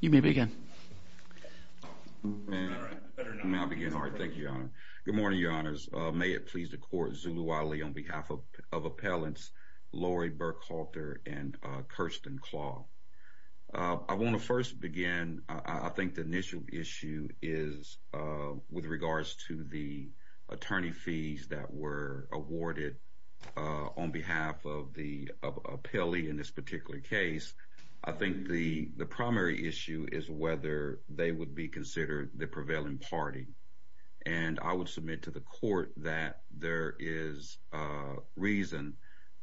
Good morning, your honors. May it please the court, Zulu Ali on behalf of appellants Lori Burkhalter and Kirsten Clough. I want to first begin, I think the initial issue is with regards to the attorney fees that were awarded on behalf of the appellee in this particular case. I think the primary issue is whether they would be considered the prevailing party. And I would submit to the court that there is reason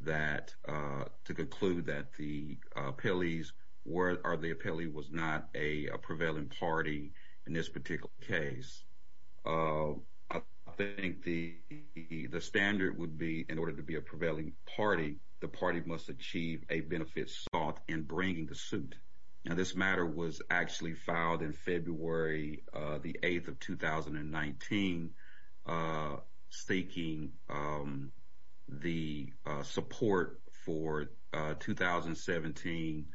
that to conclude that the appellee was not a prevailing party in this particular case. I think the standard would be in order to be a prevailing party, the party must achieve a benefit sought in bringing the suit. Now this matter was actually filed in February the 8th of 2019, seeking the support for 2017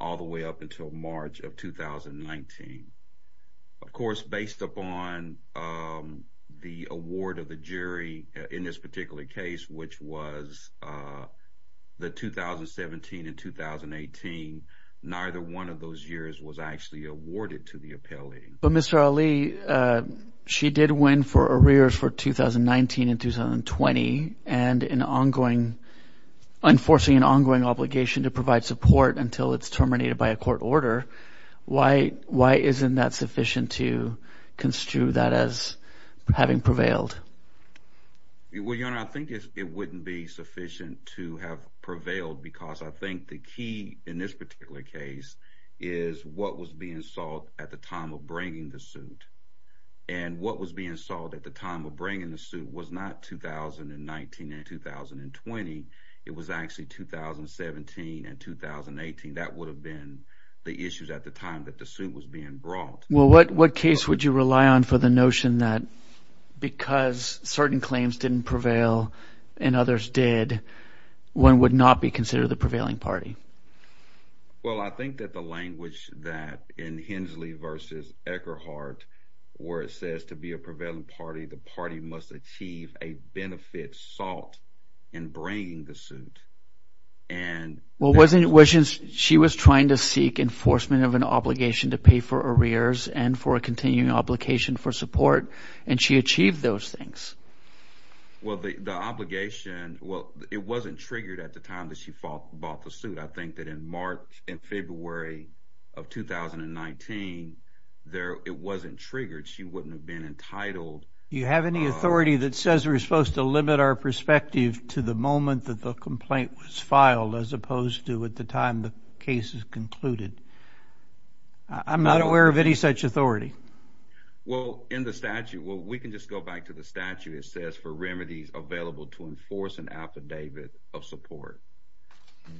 all the way up until March of 2019. Of course, based upon the award of the jury in this particular case, which was the 2017 and 2018, neither one of those years was actually awarded to the appellee. But Mr. Ali, she did win for arrears for 2019 and 2020 and in ongoing, enforcing an ongoing obligation to provide support until it's terminated by a court order. Why isn't that sufficient to construe that as having prevailed? Well, your honor, I think it wouldn't be sufficient to have prevailed because I think the key in this particular case is what was being sought at the time of bringing the suit. And what was being sought at the time of bringing the suit was not 2019 and 2020. It was actually 2017 and 2018. That would have been the issues at the time that the suit was being brought. Well, what case would you rely on for the notion that because certain claims didn't prevail and others did, one would not be considered the prevailing party? Well, I think that the language that in Hensley v. Eckerhart, where it says to be a prevailing party, the party must achieve a benefit sought in bringing the suit. And she was trying to seek enforcement of an obligation to pay for arrears and for a continuing obligation for support. And she achieved those things. Well, the obligation, well, it wasn't triggered at the time that she bought the suit. I think that in March and February of 2019, it wasn't triggered. She wouldn't have been entitled. You have any authority that says we're supposed to limit our perspective to the moment that the complaint was filed as opposed to at the time the case is concluded? I'm not aware of any such authority. Well, in the statute, well, we can just go back to the statute. It says for remedies available to enforce an affidavit of support.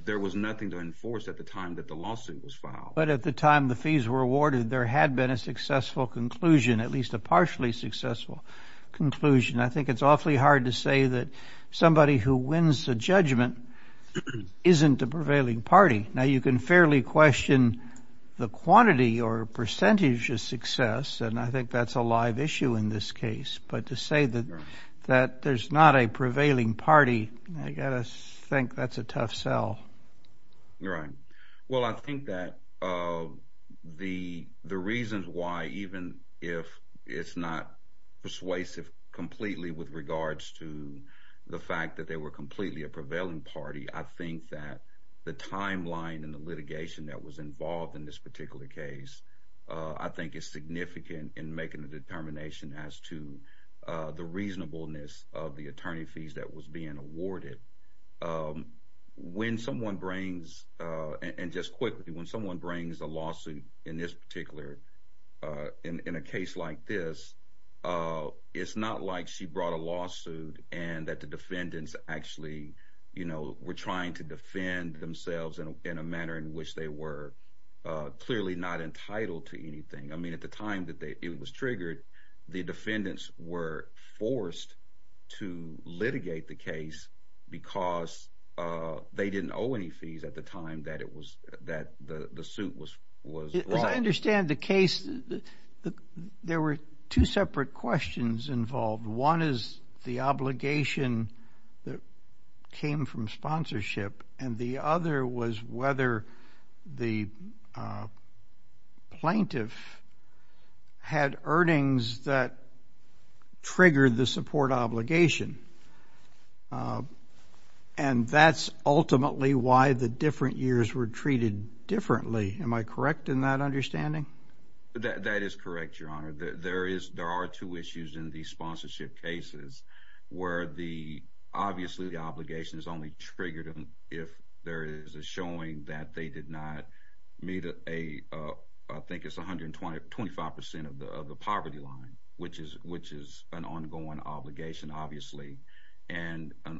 There was nothing to enforce at the time that the lawsuit was filed. But at the time the fees were awarded, there had been a successful conclusion, at least a partially successful conclusion. I think it's awfully hard to say that somebody who wins the judgment isn't the prevailing party. Now, you can fairly question the quantity or percentage of success, and I think that's a live issue in this case. But to say that there's not a prevailing party, I got to think that's a tough sell. Right. Well, I think that the reasons why, even if it's not persuasive completely with regards to the fact that they were completely a prevailing party, I think that the timeline and the litigation that was involved in this particular case, I think is significant in making the determination as to the reasonableness of the attorney fees that was being awarded. When someone brings, and just quickly, when someone brings a lawsuit in this particular, in a case like this, it's not like she brought a lawsuit and that the defendants actually were trying to defend themselves in a manner in which they were clearly not entitled to be triggered. The defendants were forced to litigate the case because they didn't owe any fees at the time that the suit was brought. As I understand the case, there were two separate questions involved. One is the obligation that came from sponsorship, and the other was whether the plaintiff had earnings that triggered the support obligation. And that's ultimately why the different years were treated differently. Am I correct in that understanding? That is correct, Your Honor. There are two issues in the sponsorship cases where obviously the obligation is only triggered if there is a showing that they did not meet, I think it's 125% of the poverty line, which is an ongoing obligation, obviously,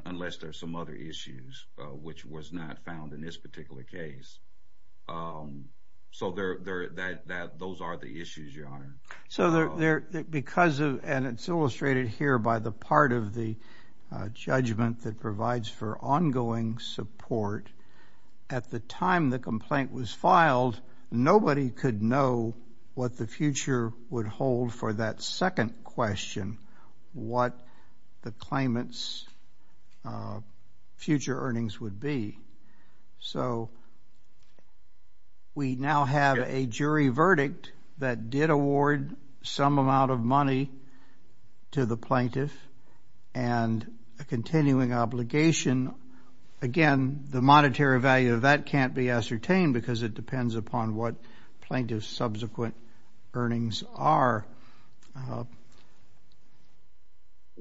unless there are some other issues which was not found in this particular case. So those are the issues, Your Honor. So because of, and it's illustrated here by the part of the judgment that provides for ongoing support, at the time the complaint was filed, nobody could know what the future would hold for that second question, what the claimant's future earnings would be. So we now have a jury verdict that did award some amount of money to the plaintiff and a continuing obligation. Again, the monetary value of that can't be ascertained because it depends upon what plaintiff's subsequent earnings are.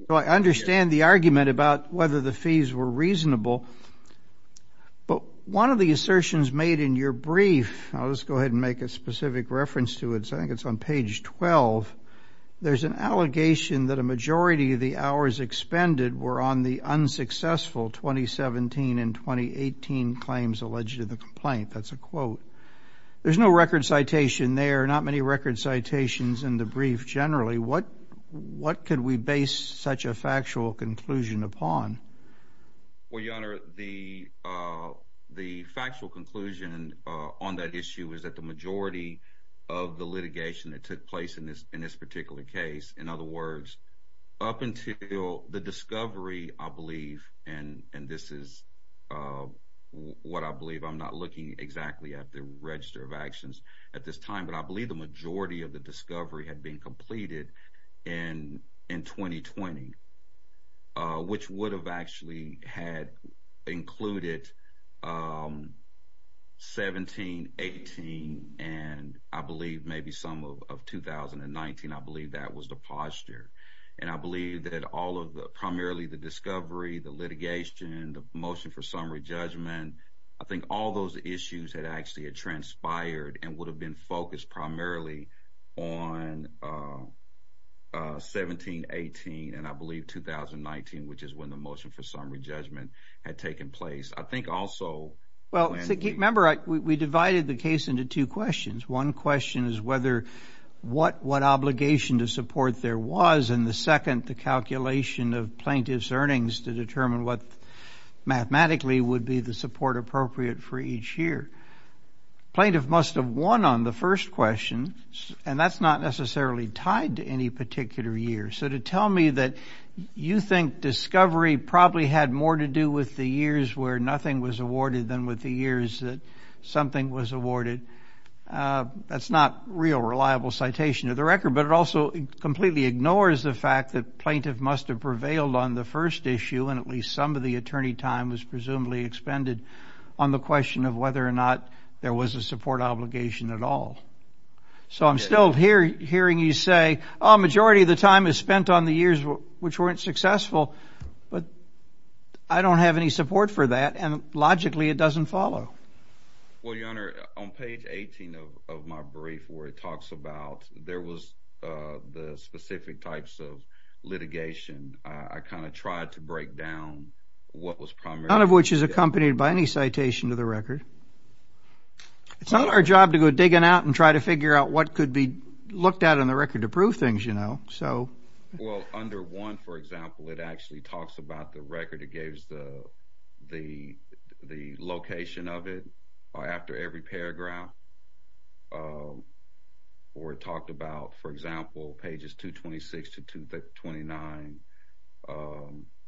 So I understand the argument about whether the fees were reasonable, but one of the assertions made in your brief, I'll just go ahead and make a specific reference to it, I think it's on page 12, there's an allegation that a majority of the hours expended were on the unsuccessful 2017 and 2018 claims alleged in the complaint. That's a quote. There's no record citation there, not many record citations in the brief generally. What could we base such a factual conclusion upon? Well, Your Honor, the factual conclusion on that issue is that the majority of the litigation that took place in this particular case, in other words, up until the discovery, I believe, and this is what I believe, I'm not looking exactly at the register of actions at this time, but I believe the majority of the discovery had been completed in 2020, which would have actually had included 17, 18, and I believe maybe some of 2019, I believe that was the And I believe that all of the, primarily the discovery, the litigation, the motion for summary judgment, I think all those issues had actually transpired and would have been focused primarily on 17, 18, and I believe 2019, which is when the motion for summary judgment had taken place. I think also... Well, remember, we divided the case into two questions. One question is what obligation to support there was, and the second, the calculation of plaintiff's earnings to determine what mathematically would be the support appropriate for each year. Plaintiff must have won on the first question, and that's not necessarily tied to any particular year, so to tell me that you think discovery probably had more to do with the years where nothing was awarded than with the years that something was awarded, that's not real reliable citation to the record, but it also completely ignores the fact that plaintiff must have prevailed on the first issue, and at least some of the attorney time was presumably expended on the question of whether or not there was a support obligation at all. So I'm still hearing you say, oh, majority of the time is spent on the years which weren't successful, but I don't have any support for that, and logically, it doesn't follow. Well, your honor, on page 18 of my brief where it talks about there was the specific types of litigation, I kind of tried to break down what was primary... None of which is accompanied by any citation to the record. It's not our job to go digging out and try to figure out what could be looked at in the record to prove things, you know, so... Well, under one, for example, it actually talks about the record. It gives the location of it after every paragraph, or it talked about, for example, pages 226 to 229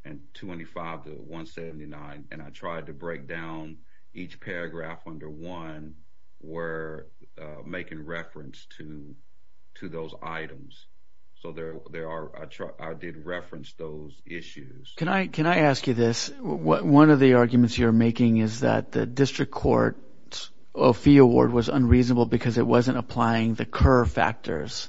and 225 to 179, and I tried to break down each paragraph under one where making reference to those items. So there are... I did reference those issues. Can I ask you this? One of the arguments you're making is that the district court's fee award was unreasonable because it wasn't applying the curve factors.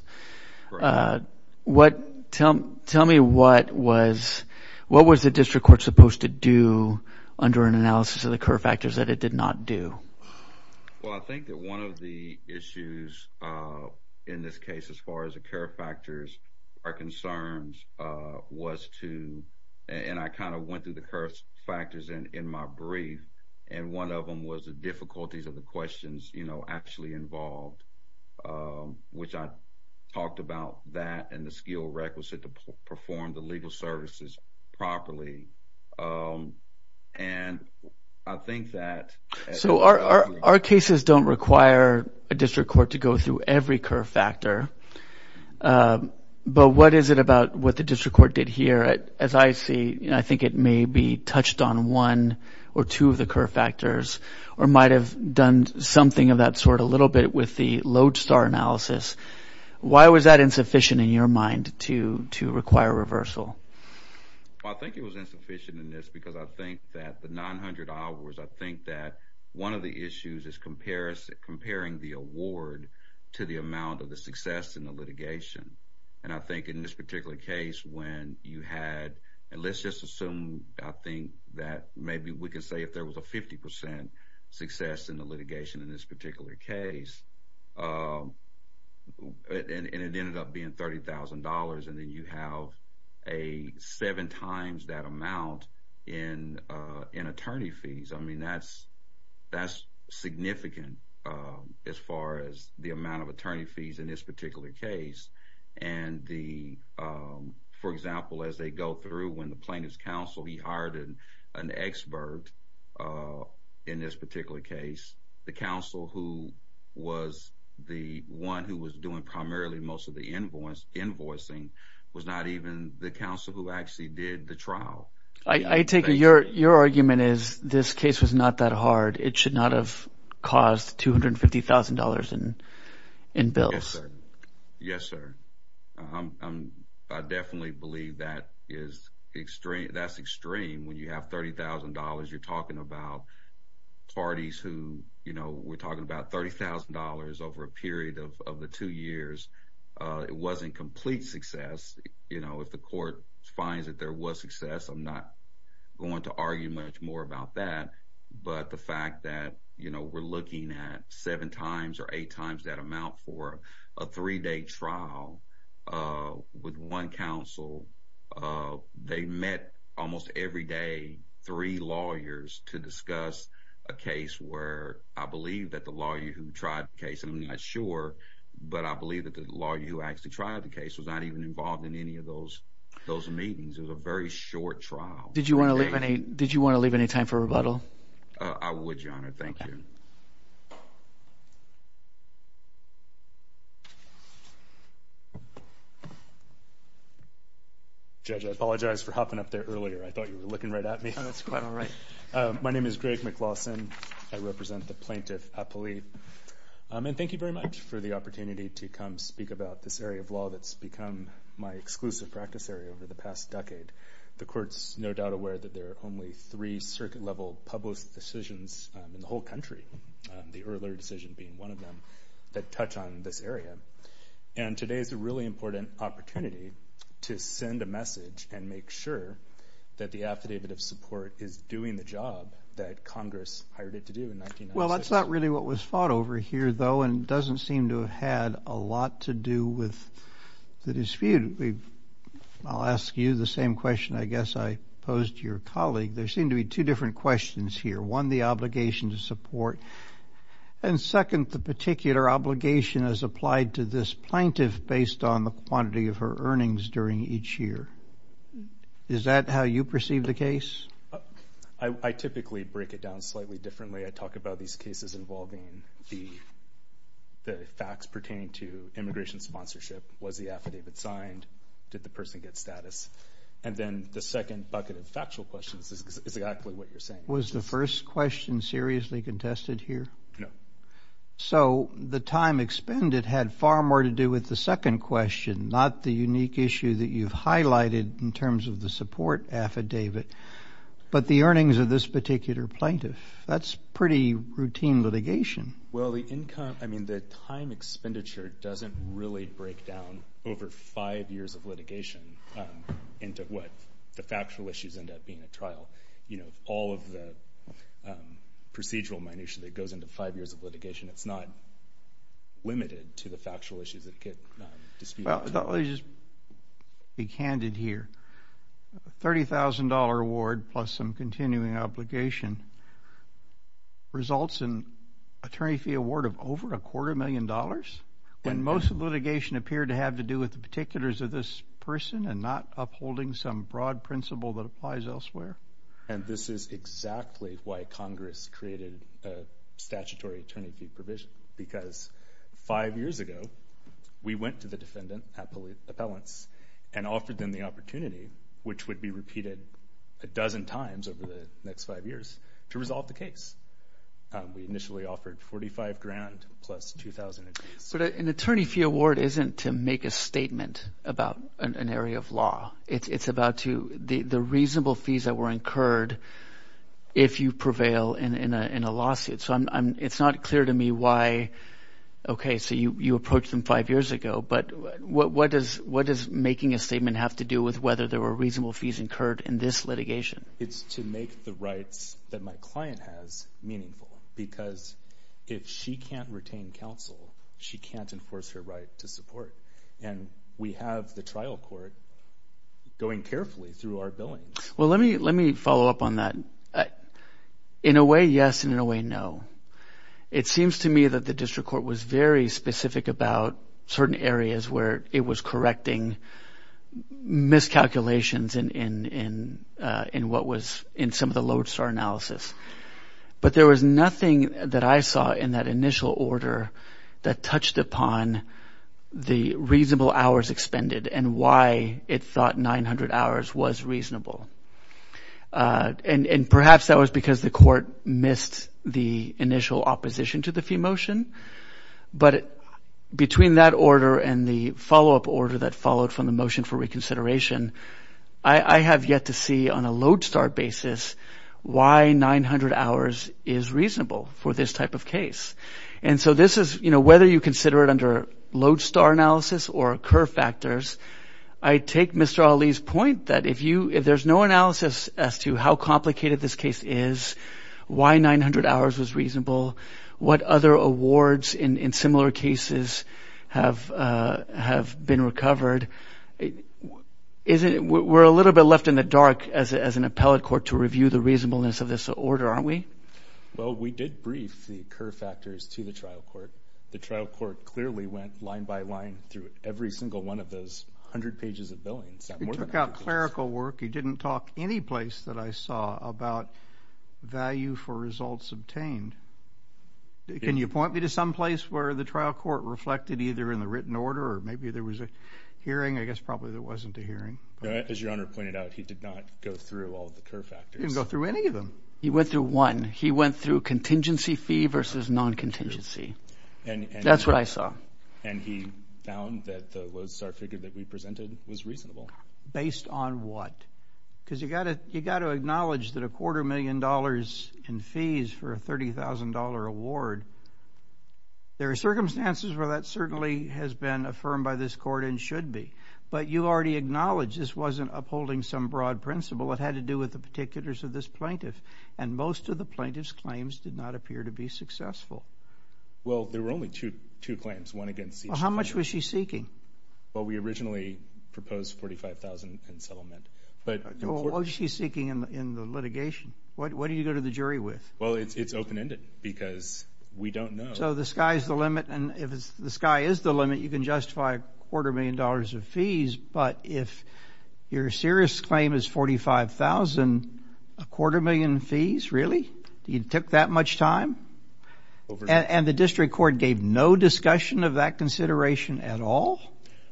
Tell me what was... What was the district court supposed to do under an analysis of the curve factors that it did not do? Well, I think that one of the issues in this case as far as the curve factors are concerned was to... And I kind of went through the curve factors in my brief, and one of them was the difficulties of the questions, you know, actually involved, which I talked about that and the skill requisite to perform the legal services properly. And I think that... So our cases don't require a district court to go through every curve factor. But what is it about what the district court did here? As I see, I think it may be touched on one or two of the curve factors, or might have done something of that sort a little bit with the lodestar analysis. Why was that insufficient in your mind to require reversal? Well, I think it was insufficient in this because I think that the 900 hours, I think that one of the issues is comparing the award to the amount of the success in the litigation. And I think in this particular case, when you had... And let's just assume, I think that maybe we can say if there was a 50% success in the litigation in this particular case, and it ended up being $30,000, and then you have a seven times that amount in attorney fees. I mean, that's significant as far as the amount of attorney fees in this particular case. And for example, as they go through when the plaintiff's counsel, he hired an expert in this particular case, the counsel who was the one who was doing primarily most of the invoicing was not even the counsel who actually did the trial. I take it your argument is this case was not that hard. It should not have caused $250,000 in bills. Yes, sir. I definitely believe that's extreme. When you have $30,000, you're talking about parties who... We're talking about $30,000 over a period of the two years. It wasn't complete success. If the court finds that there was success, I'm not going to argue much more about that. But the fact that we're looking at seven times or eight times that amount for a three-day trial with one counsel, they met almost every day three lawyers to discuss a case where I believe that the lawyer who tried the case, and I'm not sure, but I believe that the lawyer who actually tried the case was not even involved in any of those meetings. It was a very short trial. Did you want to leave any time for rebuttal? I would, Your Honor. Thank you. Judge, I apologize for hopping up there earlier. I thought you were looking right at me. That's quite all right. My name is Greg McLawson. I represent the plaintiff at Polite. Thank you very much for the opportunity to come speak about this area of law that's become my exclusive practice area over the past decade. The court's no doubt aware that there are only three circuit-level public decisions in the whole country, the earlier decision being one of them, that touch on this area. And today is a really important opportunity to send a message and make sure that the affidavit of support is doing the job that Congress hired it to do in 1996. Well, that's not really what was fought over here, though, and doesn't seem to have had a lot to do with the dispute. I'll ask you the same question I guess I posed to your colleague. There seem to be two different questions here. One, the obligation to support, and second, the particular obligation as applied to this plaintiff based on the quantity of her earnings during each year. Is that how you perceive the case? I typically break it down slightly differently. I talk about these cases involving the facts pertaining to immigration sponsorship. Was the affidavit signed? Did the person get status? And then the second bucket of factual questions is exactly what you're saying. Was the first question seriously contested here? No. So the time expended had far more to do with the second question, not the unique issue that you've highlighted in terms of the support affidavit, but the earnings of this particular plaintiff. That's pretty routine litigation. Well, the income—I mean, the time expenditure doesn't really break down over five years of litigation into what the factual issues end up being at trial. You know, all of the procedural minutia that goes into five years of litigation, it's not limited to the factual issues that get disputed. Let me just be candid here. A $30,000 award plus some continuing obligation results in an attorney fee award of over a quarter million dollars when most of the litigation appeared to have to do with the particulars of this person and not upholding some broad principle that applies elsewhere? And this is exactly why Congress created a statutory attorney fee provision, because five years ago, we went to the defendant appellants and offered them the opportunity, which would be repeated a dozen times over the next five years, to resolve the case. We initially offered $45,000 plus $2,000 in fees. But an attorney fee award isn't to make a statement about an area of law. It's about the reasonable fees that were incurred if you prevail in a lawsuit. So it's not clear to me why okay, so you approached them five years ago, but what does making a statement have to do with whether there were reasonable fees incurred in this litigation? It's to make the rights that my client has meaningful, because if she can't retain counsel, she can't enforce her right to support. And we have the trial court going carefully through our billings. Well, let me follow up on that. In a way, yes, and in a way, no. It seems to me that the district court was very specific about certain areas where it was correcting miscalculations in some of the lodestar analysis. But there was nothing that I saw in that initial order that touched upon the reasonable hours expended and why it thought 900 hours was initial opposition to the fee motion. But between that order and the follow-up order that followed from the motion for reconsideration, I have yet to see on a lodestar basis why 900 hours is reasonable for this type of case. And so this is whether you consider it under lodestar analysis or curve factors, I take Mr. Ali's point that if there's no analysis as to how complicated this case is, why 900 hours was reasonable, what other awards in similar cases have been recovered, we're a little bit left in the dark as an appellate court to review the reasonableness of this order, aren't we? Well, we did brief the curve factors to the trial court. The trial court clearly went line by line through every single one of those 100 pages of billings. He took out clerical work. He didn't talk any place that I saw about value for results obtained. Can you point me to some place where the trial court reflected either in the written order or maybe there was a hearing? I guess probably there wasn't a hearing. As your honor pointed out, he did not go through all of the curve factors. He didn't go through any of them. He went through one. He went through contingency fee versus non-contingency. That's what I saw. And he found that the lodestar figure that we presented was reasonable. Based on what? Because you got to acknowledge that a quarter million dollars in fees for a $30,000 award, there are circumstances where that certainly has been affirmed by this court and should be. But you already acknowledged this wasn't upholding some broad principle. It had to do with the particulars of this plaintiff. And most of the plaintiff's claims did not appear to be successful. Well, there were only two claims, one against each plaintiff. How much was she seeking? Well, we originally proposed $45,000 in settlement. But what was she seeking in the litigation? What did you go to the jury with? Well, it's open-ended because we don't know. So the sky is the limit. And if the sky is the limit, you can justify a quarter million dollars of fees. But if your serious claim is $45,000, a quarter million fees, really? You took that much time? And the district court gave no discussion of that consideration at all?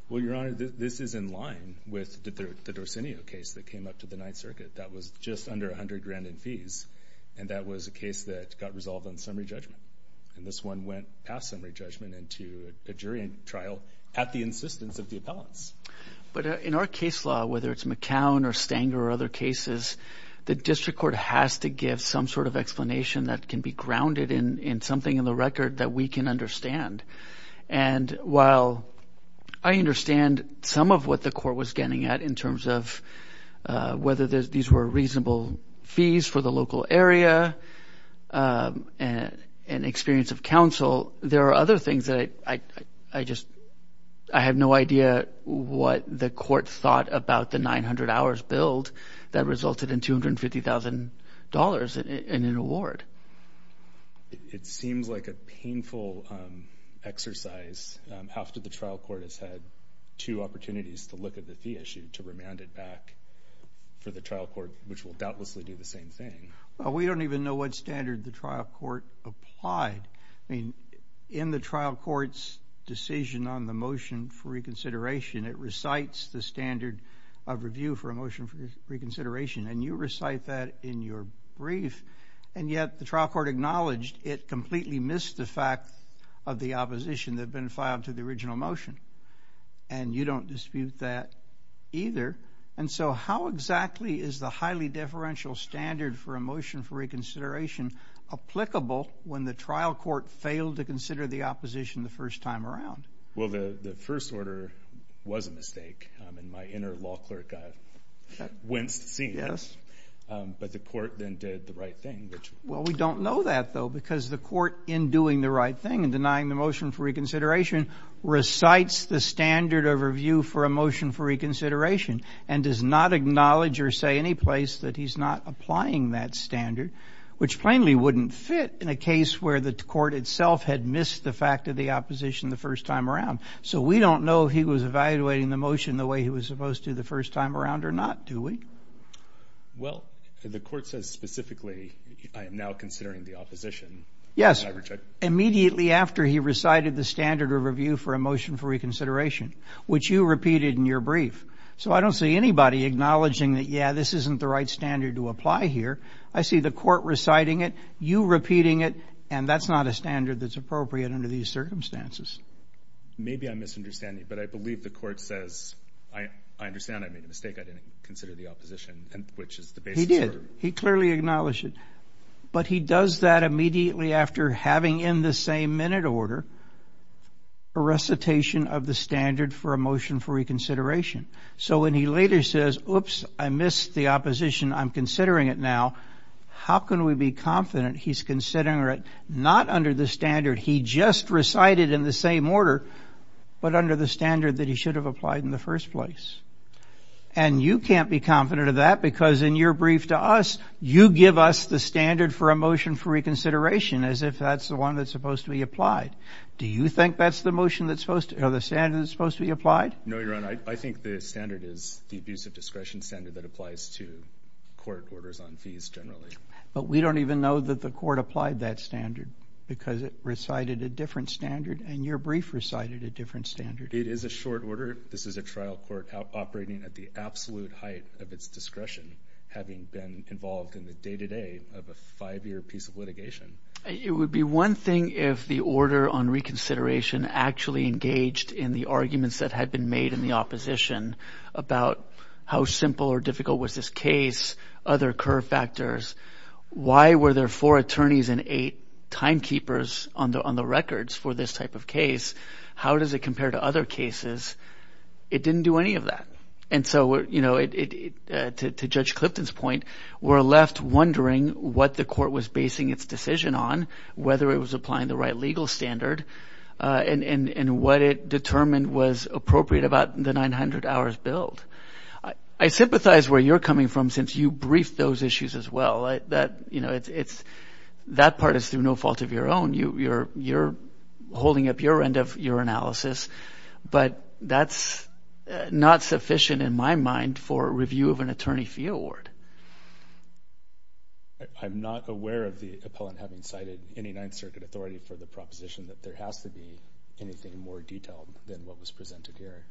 Well, Your Honor, this is in line with the Dorsinio case that came up to the Ninth Circuit. That was just under $100,000 in fees. And that was a case that got resolved on summary judgment. And this one went past summary judgment into a jury trial at the insistence of the appellants. But in our case law, whether it's McCown or Stanger or other cases, the district court has to give some sort of explanation that can be grounded in something in the record that we can understand. And while I understand some of what the court was getting at in terms of whether these were reasonable fees for the local area and experience of counsel, there are other things that I have no idea what the court thought about the 900 hours billed that resulted in $250,000 in an award. It seems like a painful exercise after the trial court has had two opportunities to look at the fee issue to remand it back for the trial court, which will doubtlessly do the same thing. We don't even know what standard the trial court applied. I mean, in the trial court's decision on the motion for reconsideration, it recites the standard of review for a motion for reconsideration. And you recite that in your brief. And yet the trial court acknowledged it completely missed the fact of the opposition that had been filed to the original motion. And you don't dispute that either. And so how exactly is the highly deferential standard for a motion for reconsideration applicable when the trial court failed to consider the opposition the first time around? Well, the first order was a mistake. And my inner law clerk got winced seeing this. But the court then did the right thing. Well, we don't know that, though, because the court, in doing the right thing and denying the motion for reconsideration, recites the standard of review for a motion for reconsideration and does not acknowledge or say any place that he's not applying that standard, which plainly wouldn't fit in a case where the court itself had missed the fact of the opposition the first time around. So we don't know if he was evaluating the motion the way he was supposed to the first time around or not, do we? Well, the court says specifically, I am now considering the opposition. Yes, immediately after he recited the standard of review for a motion for reconsideration, which you repeated in your brief. So I don't see anybody acknowledging that, yeah, this isn't the right standard to apply here. I see the court reciting it, you repeating it. And that's not a standard that's appropriate under these circumstances. Maybe I'm misunderstanding. But I believe the court says, I understand I made a mistake. I didn't consider the opposition, which is the basis. He did. He clearly acknowledged it. But he does that immediately after having in the same minute order a recitation of the standard for a motion for reconsideration. So when he later says, oops, I missed the opposition. I'm considering it now. How can we be confident he's considering it not under the standard he just recited in the same order, but under the standard that he should have applied in the first place? And you can't be confident of that, because in your brief to us, you give us the standard for a motion for reconsideration as if that's the one that's supposed to be applied. Do you think that's the motion that's supposed to, or the standard that's supposed to be applied? No, Your Honor. I think the standard is the abuse of discretion standard that applies to court orders on fees generally. But we don't even know that the court applied that standard, because it recited a different standard, and your brief recited a different standard. It is a short order. This is a trial court operating at the absolute height of its discretion, having been involved in the day-to-day of a five-year piece of litigation. It would be one thing if the order on reconsideration actually engaged in the arguments that had been made in the opposition about how simple or difficult was this case, other curve factors. Why were there four attorneys and eight timekeepers on the records for this type of case? How does it compare to other cases? It didn't do any of that. And so, you know, to Judge Clifton's point, we're left wondering what the court was basing its decision on, whether it was applying the right legal standard, and what it determined was appropriate about the 900 hours billed. I sympathize where you're coming from since you briefed those issues as well. That part is through no fault of your own. You're holding up your end of your analysis, but that's not sufficient in my mind for a review of an attorney fee award. I'm not aware of the appellant having cited any Ninth Circuit authority for the proposition that there has to be anything more detailed than what was presented here.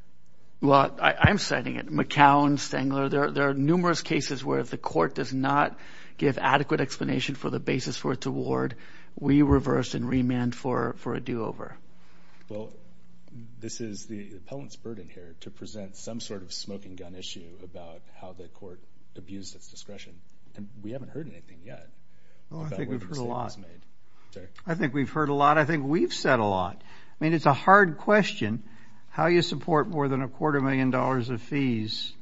Well, I'm citing it. McCown, Stangler, there are numerous cases where if the court does not give adequate explanation for the basis for its award, we reverse and remand for a do-over. Well, this is the appellant's burden here to present some sort of smoking gun issue about how the court abused its discretion. And we haven't heard anything yet. I think we've heard a lot. I think we've said a lot. I mean, it's a hard question how you support more than a quarter million dollars of fees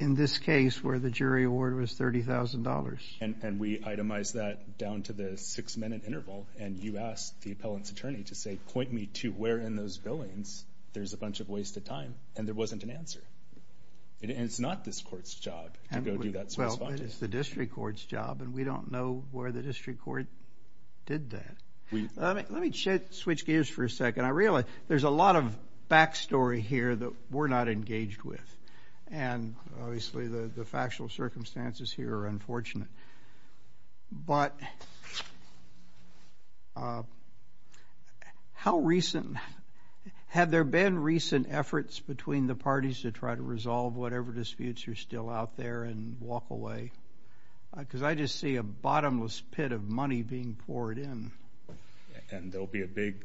in this case where the jury award was $30,000. And we itemized that down to the six-minute interval. And you asked the appellant's attorney to say, point me to where in those billings there's a bunch of wasted time. And there wasn't an answer. It's not this court's job to go do that sort of thing. Well, it's the district court's job. And we don't know where the district court did that. Let me switch gears for a second. I realize there's a lot of backstory here that we're not engaged with. And obviously, the factual circumstances here are unfortunate. But had there been recent efforts between the parties to try to resolve whatever disputes are still out there and walk away? Because I just see a bottomless pit of money being poured in. And there'll be a big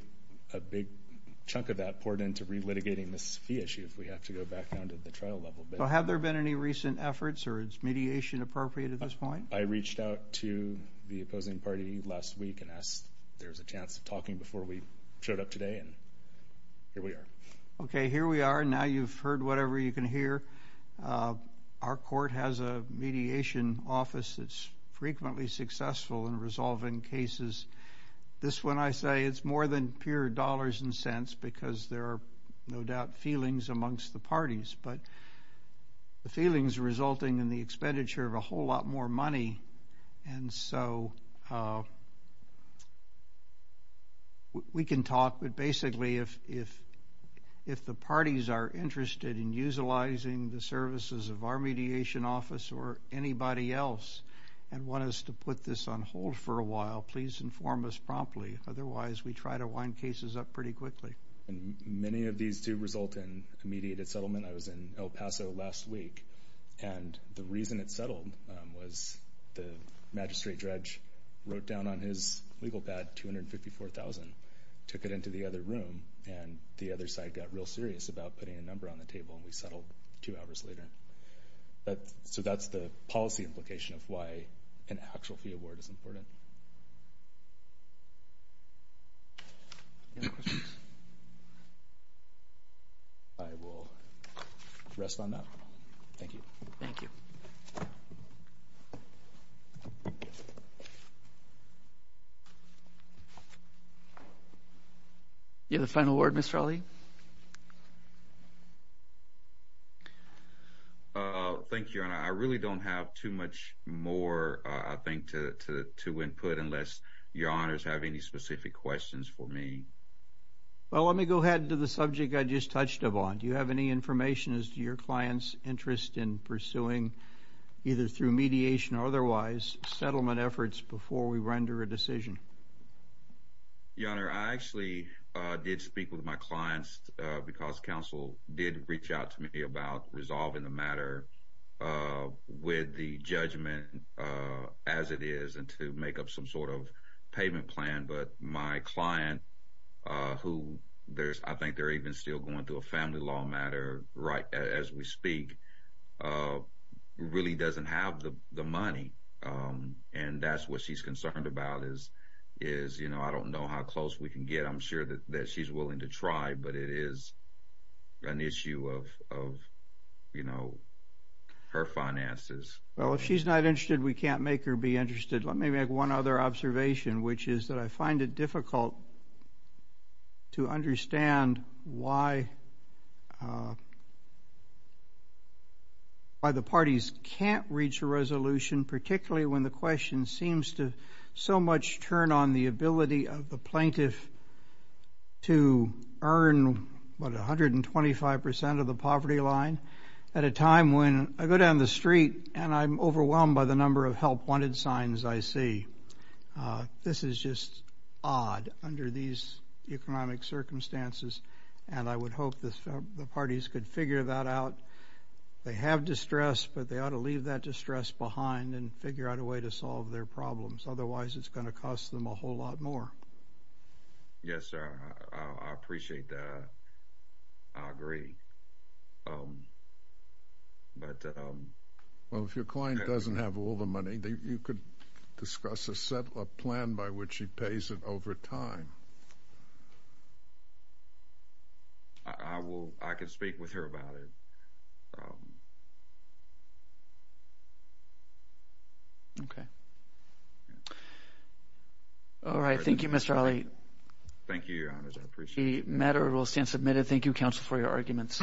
chunk of that poured into relitigating this fee issue if we have to go back down to the trial level. So have there been any recent efforts? Or is mediation appropriate at this point? I reached out to the opposing party last week and asked if there was a chance of talking before we showed up today. And here we are. OK, here we are. Now you've heard whatever you can hear. Our court has a mediation office that's frequently successful in resolving cases. This one, I say, it's more than pure dollars and cents because there are no doubt feelings amongst the parties. But the feelings are resulting in the expenditure of a whole lot more money. And so we can talk. But basically, if the parties are interested in utilizing the services of our mediation office or anybody else and want us to put this on hold for a while, please inform us promptly. Otherwise, we try to wind cases up pretty quickly. Many of these do result in a mediated settlement. I was in El Paso last week. And the reason it settled was the magistrate dredge wrote down on his legal pad $254,000, took it into the other room, and the other side got real serious about putting a number on the table. And we settled two hours later. So that's the policy implication of why an actual fee award is important. Any other questions? I will rest my mouth. Thank you. Thank you. Do you have a final word, Mr. Ali? Thank you, Your Honor. I really don't have too much more, I think, to win. I don't have a lot of input unless Your Honors have any specific questions for me. Well, let me go ahead to the subject I just touched upon. Do you have any information as to your client's interest in pursuing, either through mediation or otherwise, settlement efforts before we render a decision? Your Honor, I actually did speak with my clients because counsel did reach out to me about resolving the matter with the judgment as it is and to make up some sort of payment plan, but my client, who I think they're even still going through a family law matter right as we speak, really doesn't have the money. And that's what she's concerned about is, you know, I don't know how close we can get. I'm sure that she's willing to try, but it is an issue of, you know, her finances. Well, if she's not interested, we can't make her be interested. Let me make one other observation, which is that I find it difficult to understand why the parties can't reach a resolution, particularly when the question seems to so much turn on the ability of the plaintiff to earn, what, 125 percent of the poverty line at a time when I go down the street and I'm overwhelmed by the number of help wanted signs I see. This is just odd under these economic circumstances, and I would hope the parties could figure that out. They have distress, but they ought to leave that distress behind and figure out a way to solve their problems, otherwise it's going to cost them a whole lot more. Yes, sir. I appreciate that. I agree. But. Well, if your client doesn't have all the money, you could discuss a plan by which she pays it over time. I will. I can speak with her about it. Okay. All right. Thank you, Mr. Ali. Thank you, Your Honor. I appreciate it. The matter will stand submitted. Thank you, counsel, for your arguments.